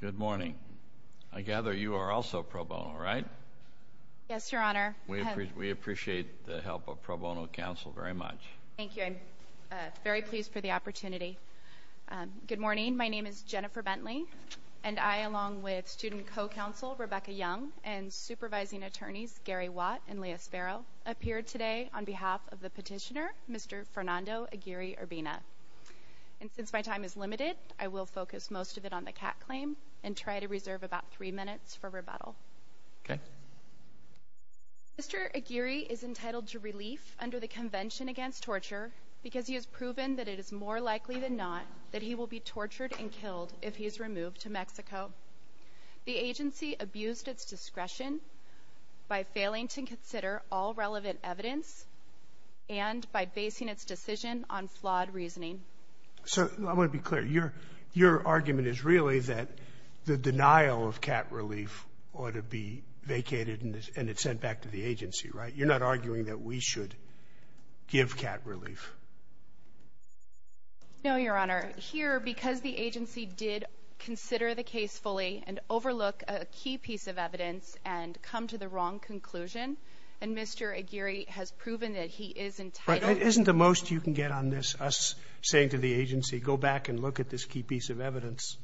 Good morning. I gather you are also pro bono, right? Yes, Your Honor. We appreciate the help of pro bono counsel very much. Thank you. I'm very pleased for the opportunity. Good morning. My name is Jennifer Bentley, and I, along with student co-counsel Rebecca Young and supervising attorneys Gary Watt and Leah Sparrow, appeared today on behalf of the petitioner, Mr. Fernando Aguirre-Urbina. And since my time is limited, I will focus most of it on the cat claim and try to reserve about three minutes for rebuttal. Okay. Mr. Aguirre is entitled to relief under the Convention Against Torture because he has proven that it is more likely than not that he will be tortured and killed if he is removed to Mexico. The agency abused its discretion by failing to consider all relevant evidence and by basing its decision on flawed reasoning. So I want to be clear. Your argument is really that the denial of cat relief ought to be vacated and it's sent back to the agency, right? You're not arguing that we should give cat relief. No, Your Honor. Here, because the agency did consider the case fully and overlook a key piece of evidence and come to the wrong conclusion, and Mr. Aguirre has proven that he is entitled to relief. Isn't the most you can get on this us saying to the agency, go back and look at this key piece of evidence,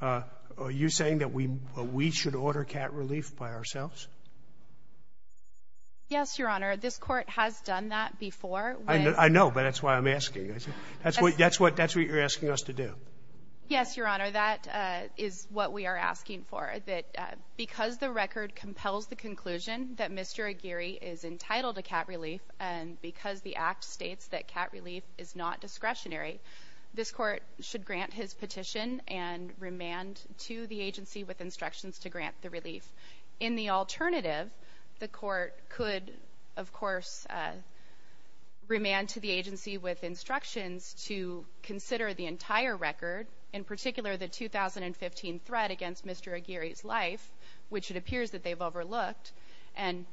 are you saying that we should order cat relief by ourselves? Yes, Your Honor. This Court has done that before. I know, but that's why I'm asking. That's what you're asking us to do. Yes, Your Honor. That is what we are asking for. Because the record compels the conclusion that Mr. Aguirre is entitled to cat relief and because the Act states that cat relief is not discretionary, this Court should grant his petition and remand to the agency with instructions to grant the relief. In the alternative, the Court could, of course, remand to the agency with instructions to consider the entire record, in particular the 2015 threat against Mr. Aguirre's life, which it appears that they've overlooked. And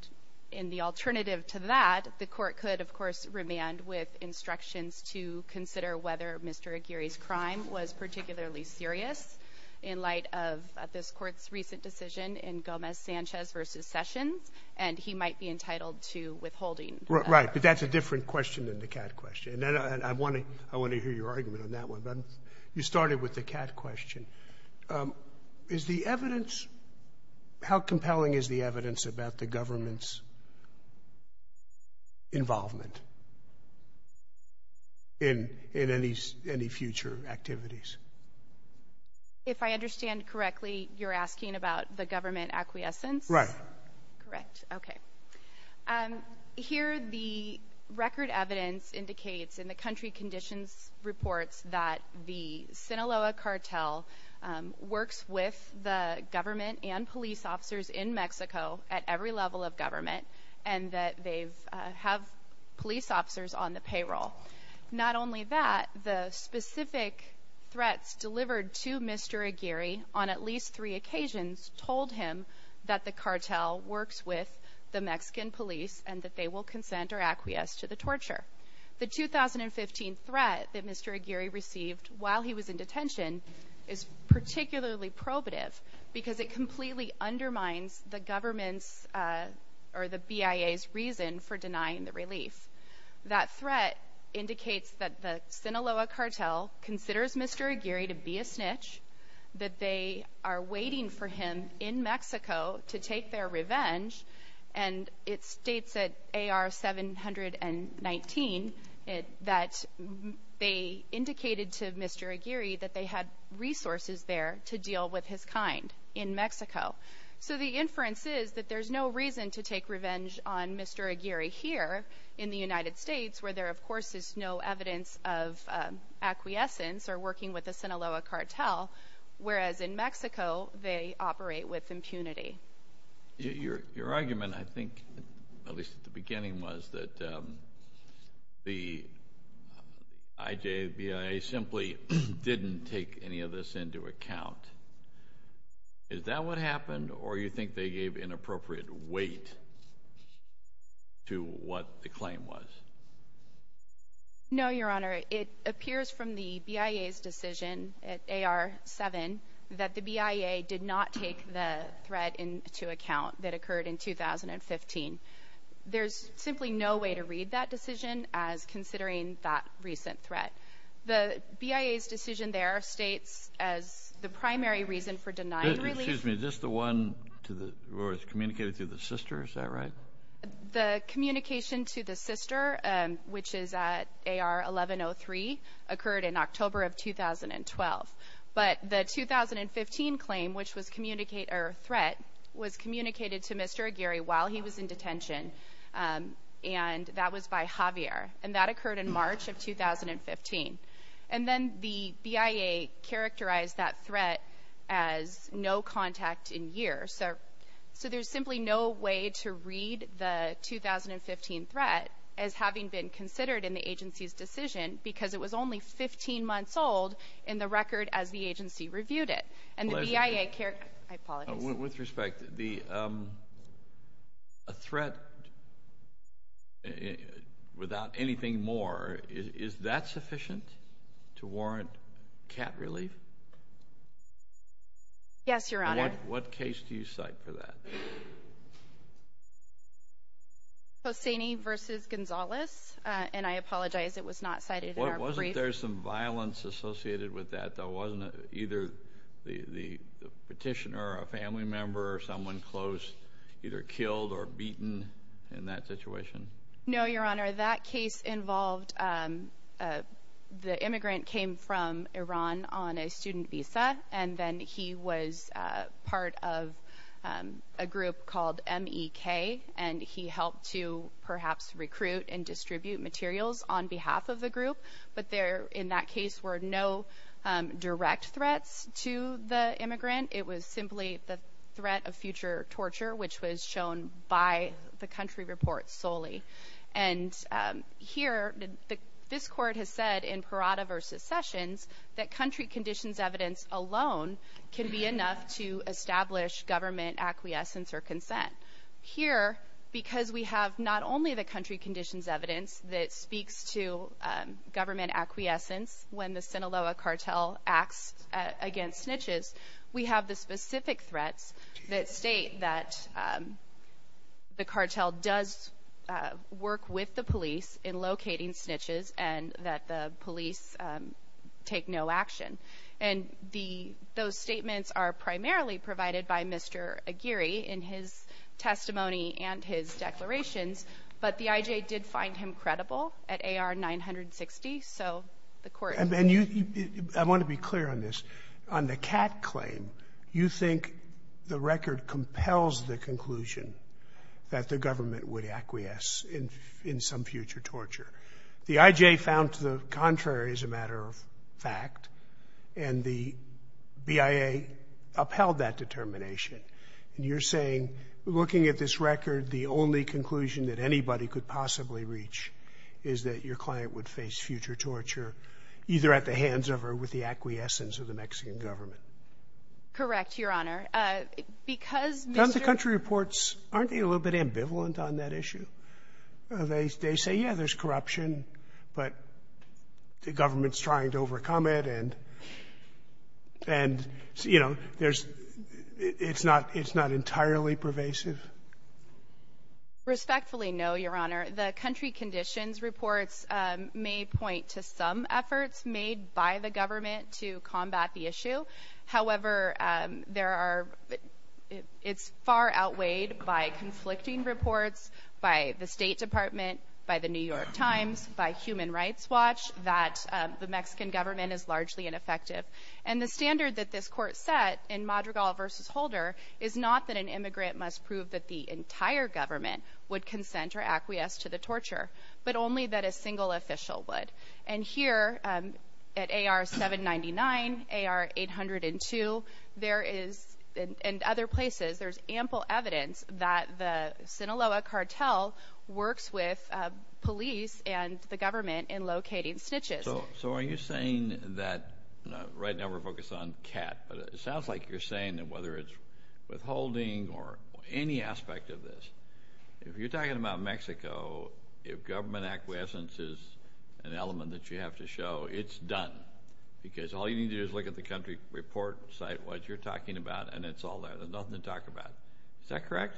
in the alternative to that, the Court could, of course, remand with instructions to consider whether Mr. Aguirre's crime was particularly serious in light of this Court's recent decision in Gomez-Sanchez v. Sessions, and he might be entitled to withholding. Right, but that's a different question than the cat question. And I want to hear your argument on that one. You started with the cat question. Is the evidence — how compelling is the evidence about the government's involvement in any future activities? If I understand correctly, you're asking about the government acquiescence? Right. Correct, okay. Here, the record evidence indicates in the country conditions reports that the Sinaloa cartel works with the government and police officers in Mexico at every level of government and that they have police officers on the payroll. Not only that, the specific threats delivered to Mr. Aguirre on at least three occasions told him that the cartel works with the Mexican police and that they will consent or acquiesce to the torture. The 2015 threat that Mr. Aguirre received while he was in detention is particularly probative because it completely undermines the government's or the BIA's reason for denying the relief. That threat indicates that the Sinaloa cartel considers Mr. Aguirre to be a snitch, that they are waiting for him in Mexico to take their revenge, and it states at AR 719 that they indicated to Mr. Aguirre that they had resources there to deal with his kind in Mexico. So the inference is that there's no reason to take revenge on Mr. Aguirre here in the United States where there, of course, is no evidence of acquiescence or working with the Sinaloa cartel, whereas in Mexico they operate with impunity. Your argument, I think, at least at the beginning, was that the IJBIA simply didn't take any of this into account. Is that what happened, or you think they gave inappropriate weight to what the claim was? No, Your Honor. It appears from the BIA's decision at AR 7 that the BIA did not take the threat into account that occurred in 2015. There's simply no way to read that decision as considering that recent threat. The BIA's decision there states as the primary reason for denying relief. Excuse me. Is this the one where it's communicated to the sister? Is that right? The communication to the sister, which is at AR 1103, occurred in October of 2012. But the 2015 claim, which was a threat, was communicated to Mr. Aguirre while he was in detention, and that was by Javier. And that occurred in March of 2015. And then the BIA characterized that threat as no contact in years. So there's simply no way to read the 2015 threat as having been considered in the agency's decision because it was only 15 months old in the record as the agency reviewed it. I apologize. With respect, a threat without anything more, is that sufficient to warrant cat relief? Yes, Your Honor. What case do you cite for that? Hosseini v. Gonzales. Wasn't there some violence associated with that? Wasn't either the petitioner or a family member or someone close either killed or beaten in that situation? No, Your Honor. That case involved the immigrant came from Iran on a student visa, and then he was part of a group called MEK, and he helped to perhaps recruit and distribute materials on behalf of the group. But there, in that case, were no direct threats to the immigrant. It was simply the threat of future torture, which was shown by the country report solely. And here, this Court has said in Parada v. Sessions that country conditions evidence alone can be enough to establish government acquiescence or consent. Here, because we have not only the country conditions evidence that speaks to government acquiescence when the Sinaloa cartel acts against snitches, we have the specific threats that state that the cartel does work with the police in locating snitches and that the police take no action. And the — those statements are primarily provided by Mr. Aguirre in his testimony and his declarations, but the I.J. did find him credible at AR 960, so the Court — And you — I want to be clear on this. On the Catt claim, you think the record compels the conclusion that the government would acquiesce in some future torture. The I.J. found to the contrary as a matter of fact, and the BIA upheld that determination. And you're saying, looking at this record, the only conclusion that anybody could possibly reach is that your client would face future torture either at the hands of or with the acquiescence of the Mexican government? Correct, Your Honor. Because Mr. — Don't the country reports, aren't they a little bit ambivalent on that issue? They — they say, yeah, there's corruption, but the government's trying to overcome it, and — and, you know, there's — it's not — it's not entirely pervasive? Respectfully, no, Your Honor. The country conditions reports may point to some efforts made by the government to combat the issue. However, there are — it's far outweighed by conflicting reports by the State Department, by the New York Times, by Human Rights Watch, that the Mexican government is largely ineffective. And the standard that this court set in Madrigal v. Holder is not that an immigrant must prove that the entire government would consent or acquiesce to the torture, but only that a single official would. And here, at AR-799, AR-802, there is — and other places, there's ample evidence that the Sinaloa cartel works with police and the government in locating snitches. So are you saying that — right now we're focused on CAT, but it sounds like you're saying that whether it's withholding or any aspect of this, if you're talking about Mexico, if government acquiescence is an element that you have to show, it's done? Because all you need to do is look at the country report site, what you're talking about, and it's all there. There's nothing to talk about. Is that correct?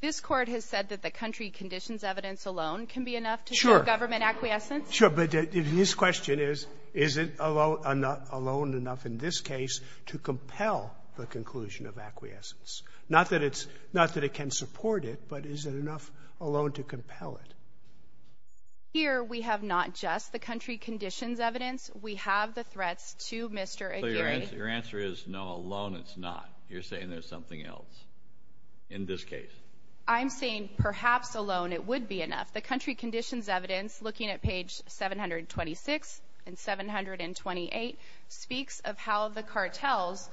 This Court has said that the country conditions evidence alone can be enough to show government acquiescence. Sure. Sure. But his question is, is it alone enough in this case to compel the conclusion of acquiescence? Not that it's — not that it can support it, but is it enough alone to compel it? Here, we have not just the country conditions evidence. We have the threats to Mr. Aguirre. So your answer is, no, alone it's not. You're saying there's something else in this case. I'm saying perhaps alone it would be enough. The country conditions evidence, looking at page 726 and 728, speaks of how the cartels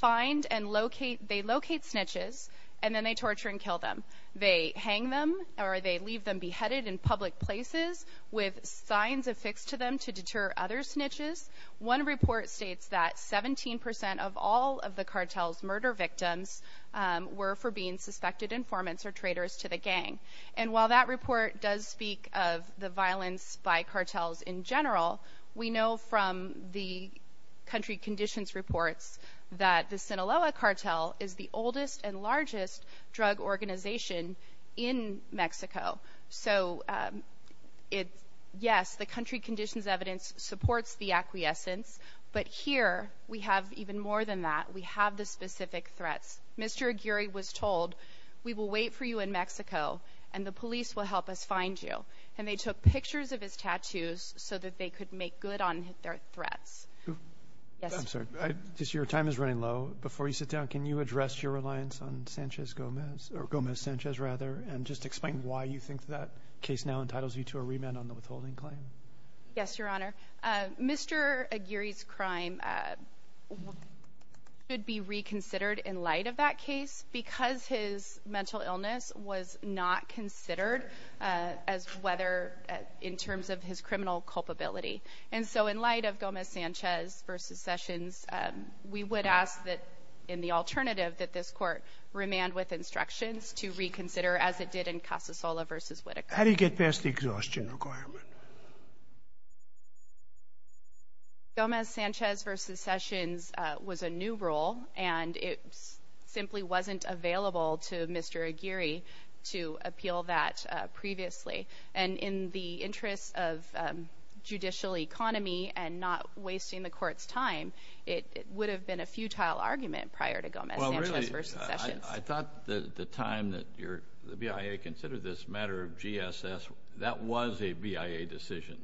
find and locate — they locate snitches and then they torture and kill them. They hang them or they leave them beheaded in public places with signs affixed to them to deter other snitches. One report states that 17 percent of all of the cartels' murder victims were for being suspected informants or traitors to the gang. And while that report does speak of the violence by cartels in general, we know from the country conditions reports that the Sinaloa cartel is the oldest and largest drug organization in Mexico. So, yes, the country conditions evidence supports the acquiescence. But here, we have even more than that. We have the specific threats. Mr. Aguirre was told, we will wait for you in Mexico and the police will help us find you. And they took pictures of his tattoos so that they could make good on their threats. I'm sorry. Your time is running low. Before you sit down, can you address your reliance on Sanchez-Gomez, or Gomez-Sanchez rather, and just explain why you think that case now entitles you to a remand on the withholding claim? Yes, Your Honor. Mr. Aguirre's crime should be reconsidered in light of that case because his mental illness was not considered as whether in terms of his criminal culpability. And so in light of Gomez-Sanchez v. Sessions, we would ask that in the alternative that this Court remand with instructions to reconsider as it did in Casasola v. Whitaker. How do you get past the exhaustion requirement? Gomez-Sanchez v. Sessions was a new rule, and it simply wasn't available to Mr. Aguirre to appeal that previously. And in the interest of judicial economy and not wasting the Court's time, it would have been a futile argument prior to Gomez-Sanchez v. Sessions. I thought at the time that the BIA considered this matter of GSS, that was a BIA decision.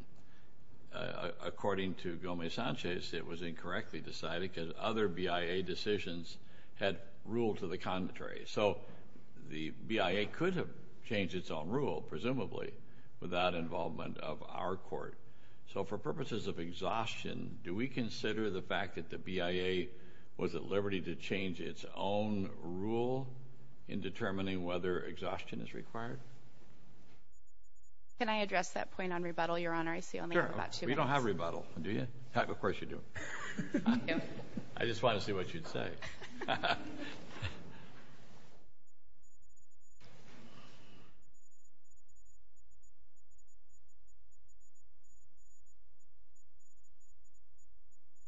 According to Gomez-Sanchez, it was incorrectly decided because other BIA decisions had ruled to the contrary. So the BIA could have changed its own rule, presumably, without involvement of our Court. So for purposes of exhaustion, do we consider the fact that the BIA was at liberty to change its own rule in determining whether exhaustion is required? Can I address that point on rebuttal, Your Honor? I see only about two minutes. Sure. We don't have rebuttal, do you? Of course you do. I just wanted to see what you'd say.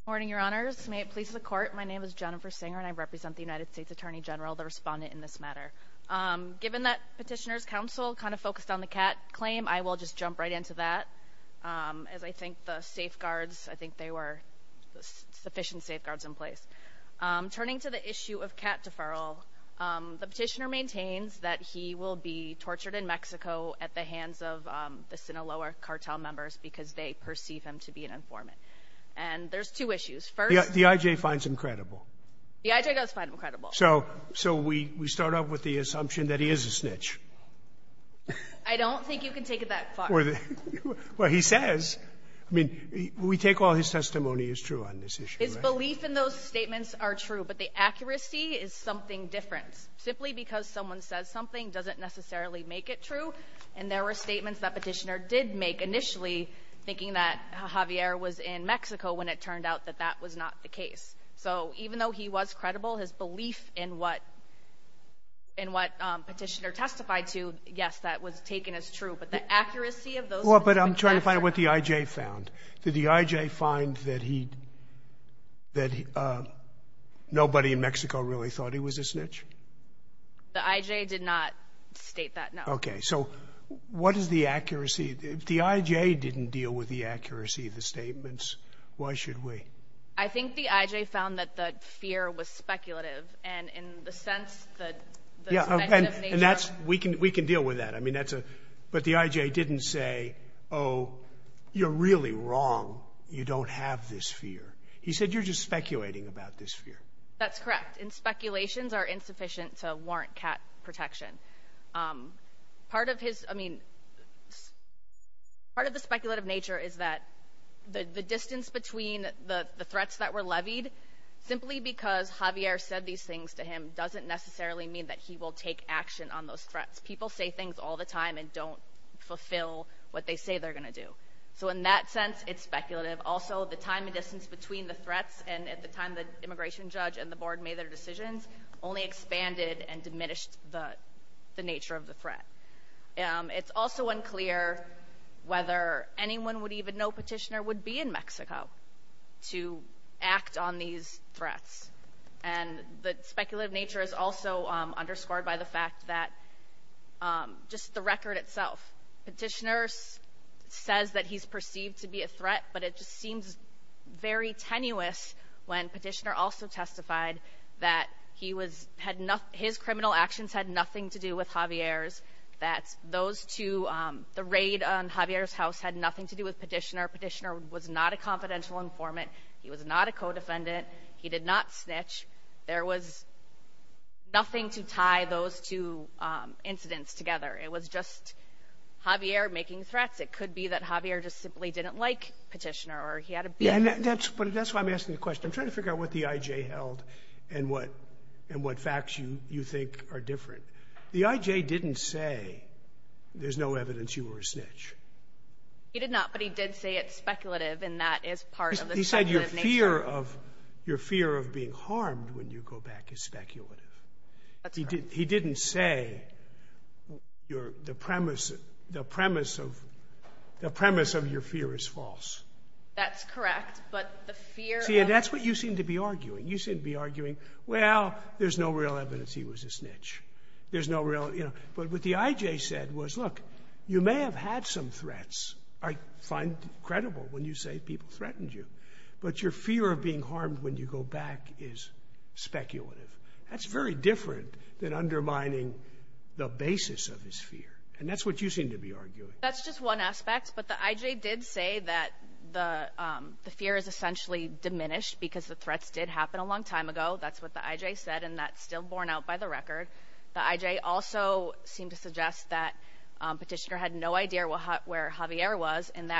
Morning, Your Honors. May it please the Court, my name is Jennifer Singer, and I represent the United States Attorney General, the respondent in this matter. Given that Petitioner's Counsel kind of focused on the Catt claim, I will just jump right into that, as I think the safeguards, I think there were sufficient safeguards in place. Turning to the issue of Catt deferral, the Petitioner maintains that he will be tortured in Mexico at the hands of the Sinaloa cartel members because they perceive him to be an informant. And there's two issues. First — The I.J. finds him credible. The I.J. does find him credible. So we start off with the assumption that he is a snitch. I don't think you can take it that far. Well, he says. I mean, we take all his testimony is true on this issue, right? His belief in those statements are true, but the accuracy is something different. Simply because someone says something doesn't necessarily make it true. And there were statements that Petitioner did make initially, thinking that Javier was in Mexico when it turned out that that was not the case. So even though he was credible, his belief in what Petitioner testified to, yes, that was taken as true. But the accuracy of those — Well, but I'm trying to find out what the I.J. found. Did the I.J. find that he — that nobody in Mexico really thought he was a snitch? The I.J. did not state that, no. Okay. So what is the accuracy? If the I.J. didn't deal with the accuracy of the statements, why should we? I think the I.J. found that the fear was speculative, and in the sense that — Yeah, and that's — we can deal with that. I mean, that's a — but the I.J. didn't say, oh, you're really wrong. You don't have this fear. He said, you're just speculating about this fear. That's correct. And speculations are insufficient to warrant cat protection. Part of his — I mean, part of the speculative nature is that the distance between the threats that were levied, simply because Javier said these things to him, doesn't necessarily mean that he will take action on those threats. People say things all the time and don't fulfill what they say they're going to do. So in that sense, it's speculative. Also, the time and distance between the threats and at the time the immigration judge and the board made their decisions only expanded and diminished the nature of the threat. It's also unclear whether anyone would even know Petitioner would be in Mexico to act on these threats. And the speculative nature is also underscored by the fact that just the record itself, Petitioner says that he's perceived to be a threat, but it just seems very tenuous when Petitioner also testified that he was — his criminal actions had nothing to do with Javier's, that those two — the raid on Javier's house had nothing to do with Petitioner. Petitioner was not a confidential informant. He was not a co-defendant. He did not snitch. There was nothing to tie those two incidents together. It was just Javier making threats. It could be that Javier just simply didn't like Petitioner or he had a — Yeah, and that's why I'm asking the question. I'm trying to figure out what the IJ held and what facts you think are different. The IJ didn't say there's no evidence you were a snitch. He did not, but he did say it's speculative, and that is part of the speculative nature. Your fear of being harmed when you go back is speculative. That's correct. He didn't say the premise of your fear is false. That's correct, but the fear of — See, and that's what you seem to be arguing. You seem to be arguing, well, there's no real evidence he was a snitch. There's no real — you know. But what the IJ said was, look, you may have had some threats. I find it credible when you say people threatened you. But your fear of being harmed when you go back is speculative. That's very different than undermining the basis of his fear. And that's what you seem to be arguing. That's just one aspect, but the IJ did say that the fear is essentially diminished because the threats did happen a long time ago. That's what the IJ said, and that's still borne out by the record. The IJ also seemed to suggest that Petitioner had no idea where Javier was, and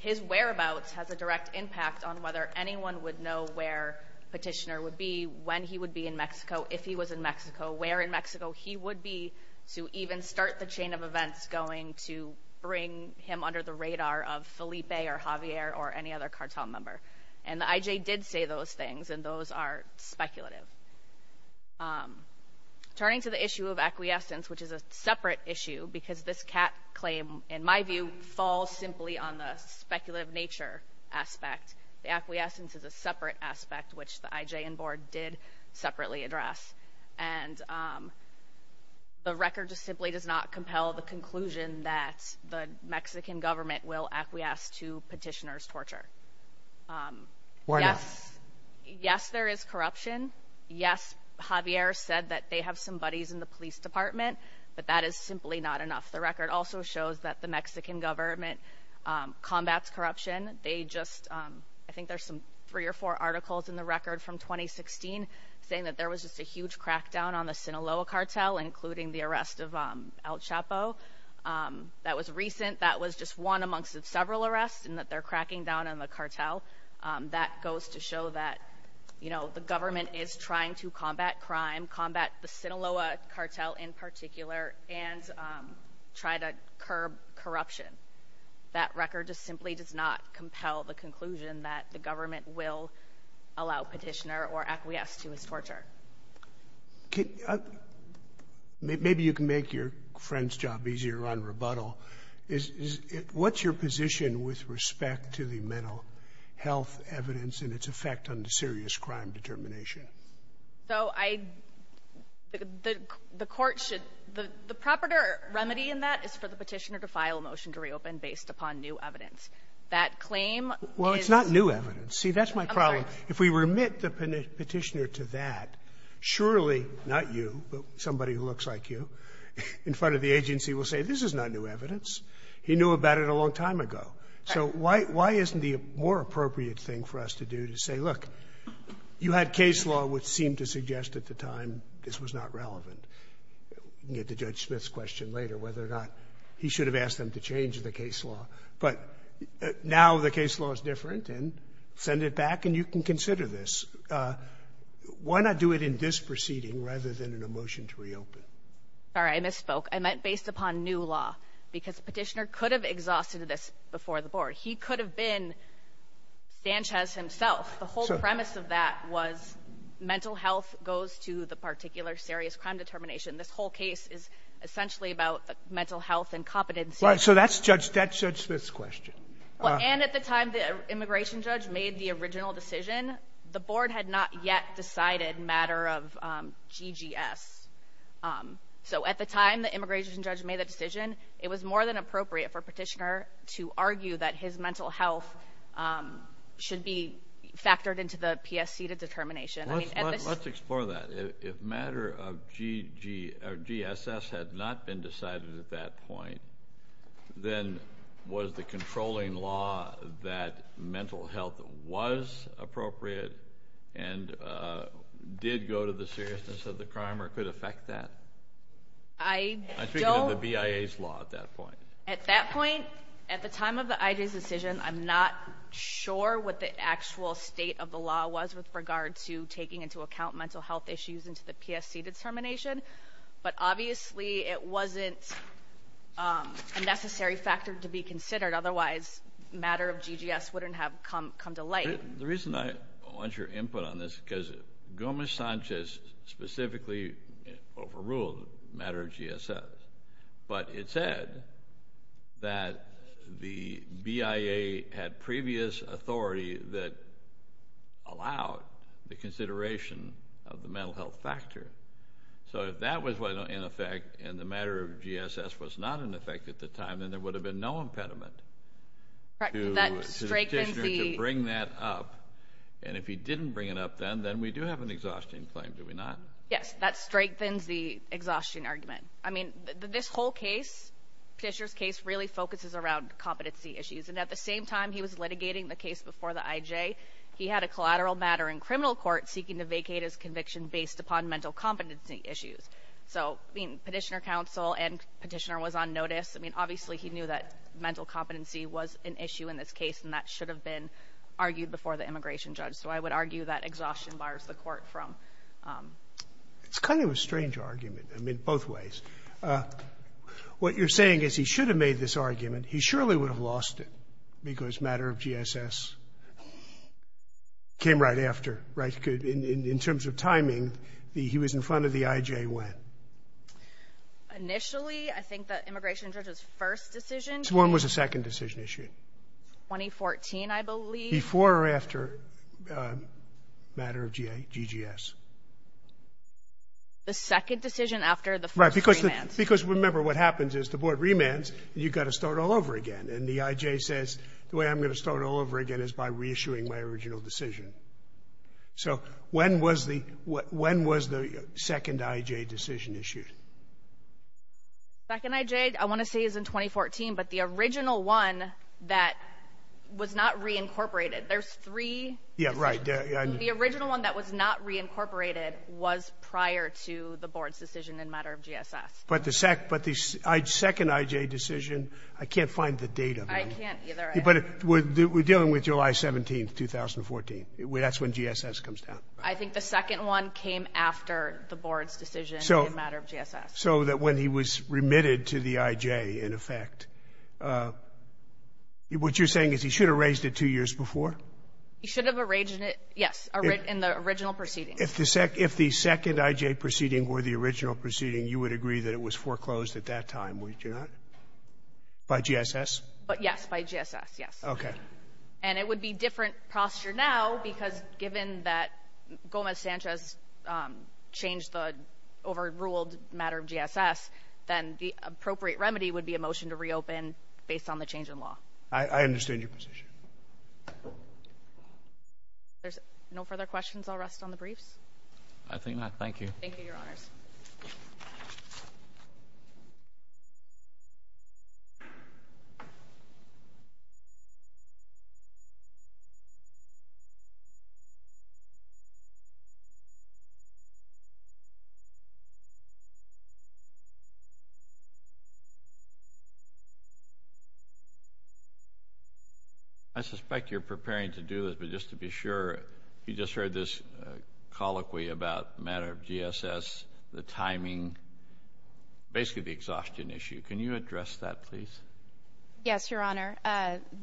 his whereabouts has a direct impact on whether anyone would know where Petitioner would be, when he would be in Mexico, if he was in Mexico, where in Mexico he would be, to even start the chain of events going to bring him under the radar of Felipe or Javier or any other cartel member. And the IJ did say those things, and those are speculative. Turning to the issue of acquiescence, which is a separate issue, because this CAT claim, in my view, falls simply on the speculative nature aspect. The acquiescence is a separate aspect, which the IJ and board did separately address. And the record just simply does not compel the conclusion that the Mexican government will acquiesce to Petitioner's torture. Yes, there is corruption. Yes, Javier said that they have some buddies in the police department, but that is simply not enough. The record also shows that the Mexican government combats corruption. They just, I think there's some three or four articles in the record from 2016 saying that there was just a huge crackdown on the Sinaloa cartel, including the arrest of El Chapo. That was recent. That was just one amongst several arrests, and that they're cracking down on the cartel. That goes to show that, you know, the government is trying to combat crime, combat the Sinaloa cartel in particular, and try to curb corruption. That record just simply does not compel the conclusion that the government will allow Petitioner or acquiesce to his torture. Maybe you can make your friend's job easier on rebuttal. What's your position with respect to the mental health evidence and its effect on the serious crime determination? So I the court should the proper remedy in that is for the Petitioner to file a motion to reopen based upon new evidence. That claim is Well, it's not new evidence. See, that's my problem. I'm sorry. If we remit the Petitioner to that, surely not you, but somebody who looks like you in front of the agency will say, this is not new evidence. He knew about it a long time ago. So why isn't the more appropriate thing for us to do to say, look, you had case law which seemed to suggest at the time this was not relevant. You can get to Judge Smith's question later whether or not he should have asked them to change the case law. But now the case law is different, and send it back, and you can consider this. Why not do it in this proceeding rather than in a motion to reopen? Sorry, I misspoke. I meant based upon new law, because Petitioner could have exhausted this before the Board. He could have been Sanchez himself. The whole premise of that was mental health goes to the particular serious crime determination. This whole case is essentially about mental health and competency. Right. So that's Judge Smith's question. And at the time the immigration judge made the original decision, the Board had not yet decided matter of GGS. So at the time the immigration judge made the decision, it was more than appropriate for Petitioner to argue that his mental health should be factored into the PSC determination. Let's explore that. If matter of GSS had not been decided at that point, then was the controlling law that mental health was appropriate and did go to the seriousness of the crime or could affect that? I don't. I'm speaking of the BIA's law at that point. At that point, at the time of the IG's decision, I'm not sure what the actual state of the PSC determination, but obviously it wasn't a necessary factor to be considered. Otherwise, matter of GGS wouldn't have come to light. The reason I want your input on this is because Gomez-Sanchez specifically overruled matter of GSS. But it said that the BIA had previous authority that allowed the consideration of the mental health factor. So if that was in effect and the matter of GSS was not in effect at the time, then there would have been no impediment to Petitioner to bring that up. And if he didn't bring it up then, then we do have an exhaustion claim, do we not? Yes. That strengthens the exhaustion argument. I mean, this whole case, Petitioner's case, really focuses around competency issues. And at the same time he was litigating the case before the IJ, he had a collateral matter in criminal court seeking to vacate his conviction based upon mental competency issues. So, I mean, Petitioner counsel and Petitioner was on notice. I mean, obviously he knew that mental competency was an issue in this case, and that should have been argued before the immigration judge. So I would argue that exhaustion bars the court from. It's kind of a strange argument, I mean, both ways. What you're saying is he should have made this argument. He surely would have lost it because matter of GSS came right after, right? In terms of timing, he was in front of the IJ when? Initially, I think the immigration judge's first decision. When was the second decision issued? 2014, I believe. Before or after matter of GGS? The second decision after the first remand. Because, remember, what happens is the board remands and you've got to start all over again. And the IJ says, the way I'm going to start all over again is by reissuing my original decision. So when was the second IJ decision issued? Second IJ, I want to say is in 2014, but the original one that was not reincorporated. There's three decisions. Yeah, right. The original one that was not reincorporated was prior to the board's decision in matter of GSS. But the second IJ decision, I can't find the date of it. I can't either. But we're dealing with July 17th, 2014. That's when GSS comes down. I think the second one came after the board's decision in matter of GSS. So that when he was remitted to the IJ, in effect, what you're saying is he should have raised it two years before? He should have raised it, yes, in the original proceeding. If the second IJ proceeding were the original proceeding, you would agree that it was foreclosed at that time, would you not? By GSS? Yes, by GSS, yes. Okay. And it would be different posture now because given that Gomez-Sanchez changed the overruled matter of GSS, then the appropriate remedy would be a motion to reopen based on the change in law. I understand your position. If there's no further questions, I'll rest on the briefs. I think not. Thank you. Thank you, Your Honors. I suspect you're preparing to do this, but just to be sure, you just heard this colloquy about matter of GSS, the timing, basically the exhaustion issue. Can you address that, please? Yes, Your Honor.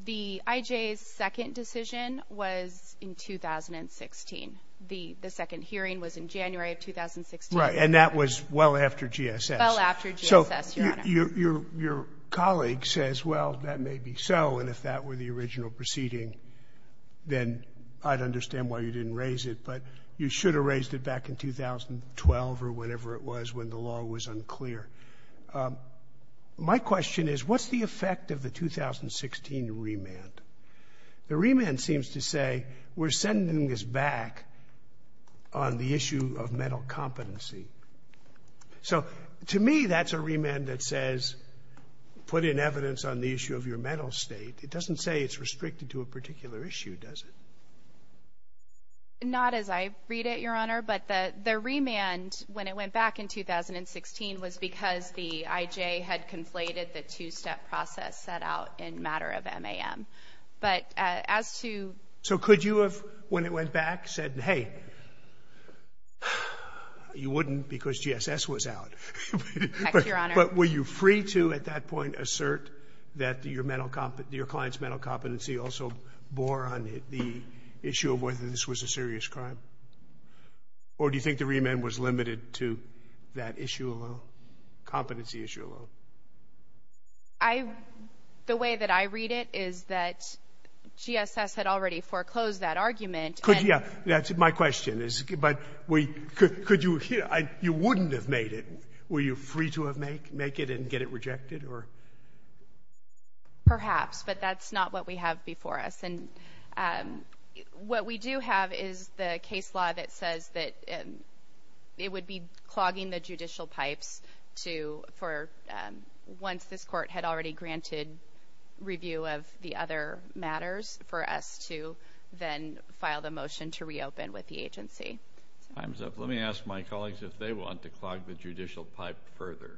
The IJ's second decision was in 2016. The second hearing was in January of 2016. Right, and that was well after GSS. Well after GSS, Your Honor. Your colleague says, well, that may be so, and if that were the original proceeding, then I'd understand why you didn't raise it, but you should have raised it back in 2012 or whenever it was when the law was unclear. My question is, what's the effect of the 2016 remand? The remand seems to say we're sending this back on the issue of mental competency. So to me, that's a remand that says put in evidence on the issue of your mental state. It doesn't say it's restricted to a particular issue, does it? Not as I read it, Your Honor, but the remand, when it went back in 2016, was because the IJ had conflated the two-step process set out in matter of MAM. But as to ---- So could you have, when it went back, said, hey, you wouldn't because GSS was out. But were you free to, at that point, assert that your client's mental competency also bore on the issue of whether this was a serious crime? Or do you think the remand was limited to that issue alone, competency issue alone? I ---- The way that I read it is that GSS had already foreclosed that argument. Could you ---- That's my question. But could you ---- You wouldn't have made it. Were you free to make it and get it rejected or ---- Perhaps. But that's not what we have before us. And what we do have is the case law that says that it would be clogging the judicial pipes to, for once this court had already granted review of the other matters, for us to then file the motion to reopen with the agency. Time's up. Let me ask my colleagues if they want to clog the judicial pipe further.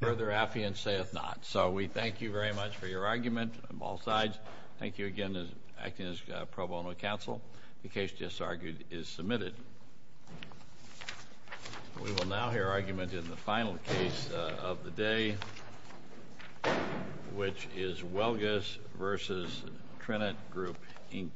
Further affiance saith not. So we thank you very much for your argument on both sides. Thank you again for acting as pro bono counsel. The case just argued is submitted. We will now hear argument in the final case of the day, which is Welges v. Trenet Group, Inc.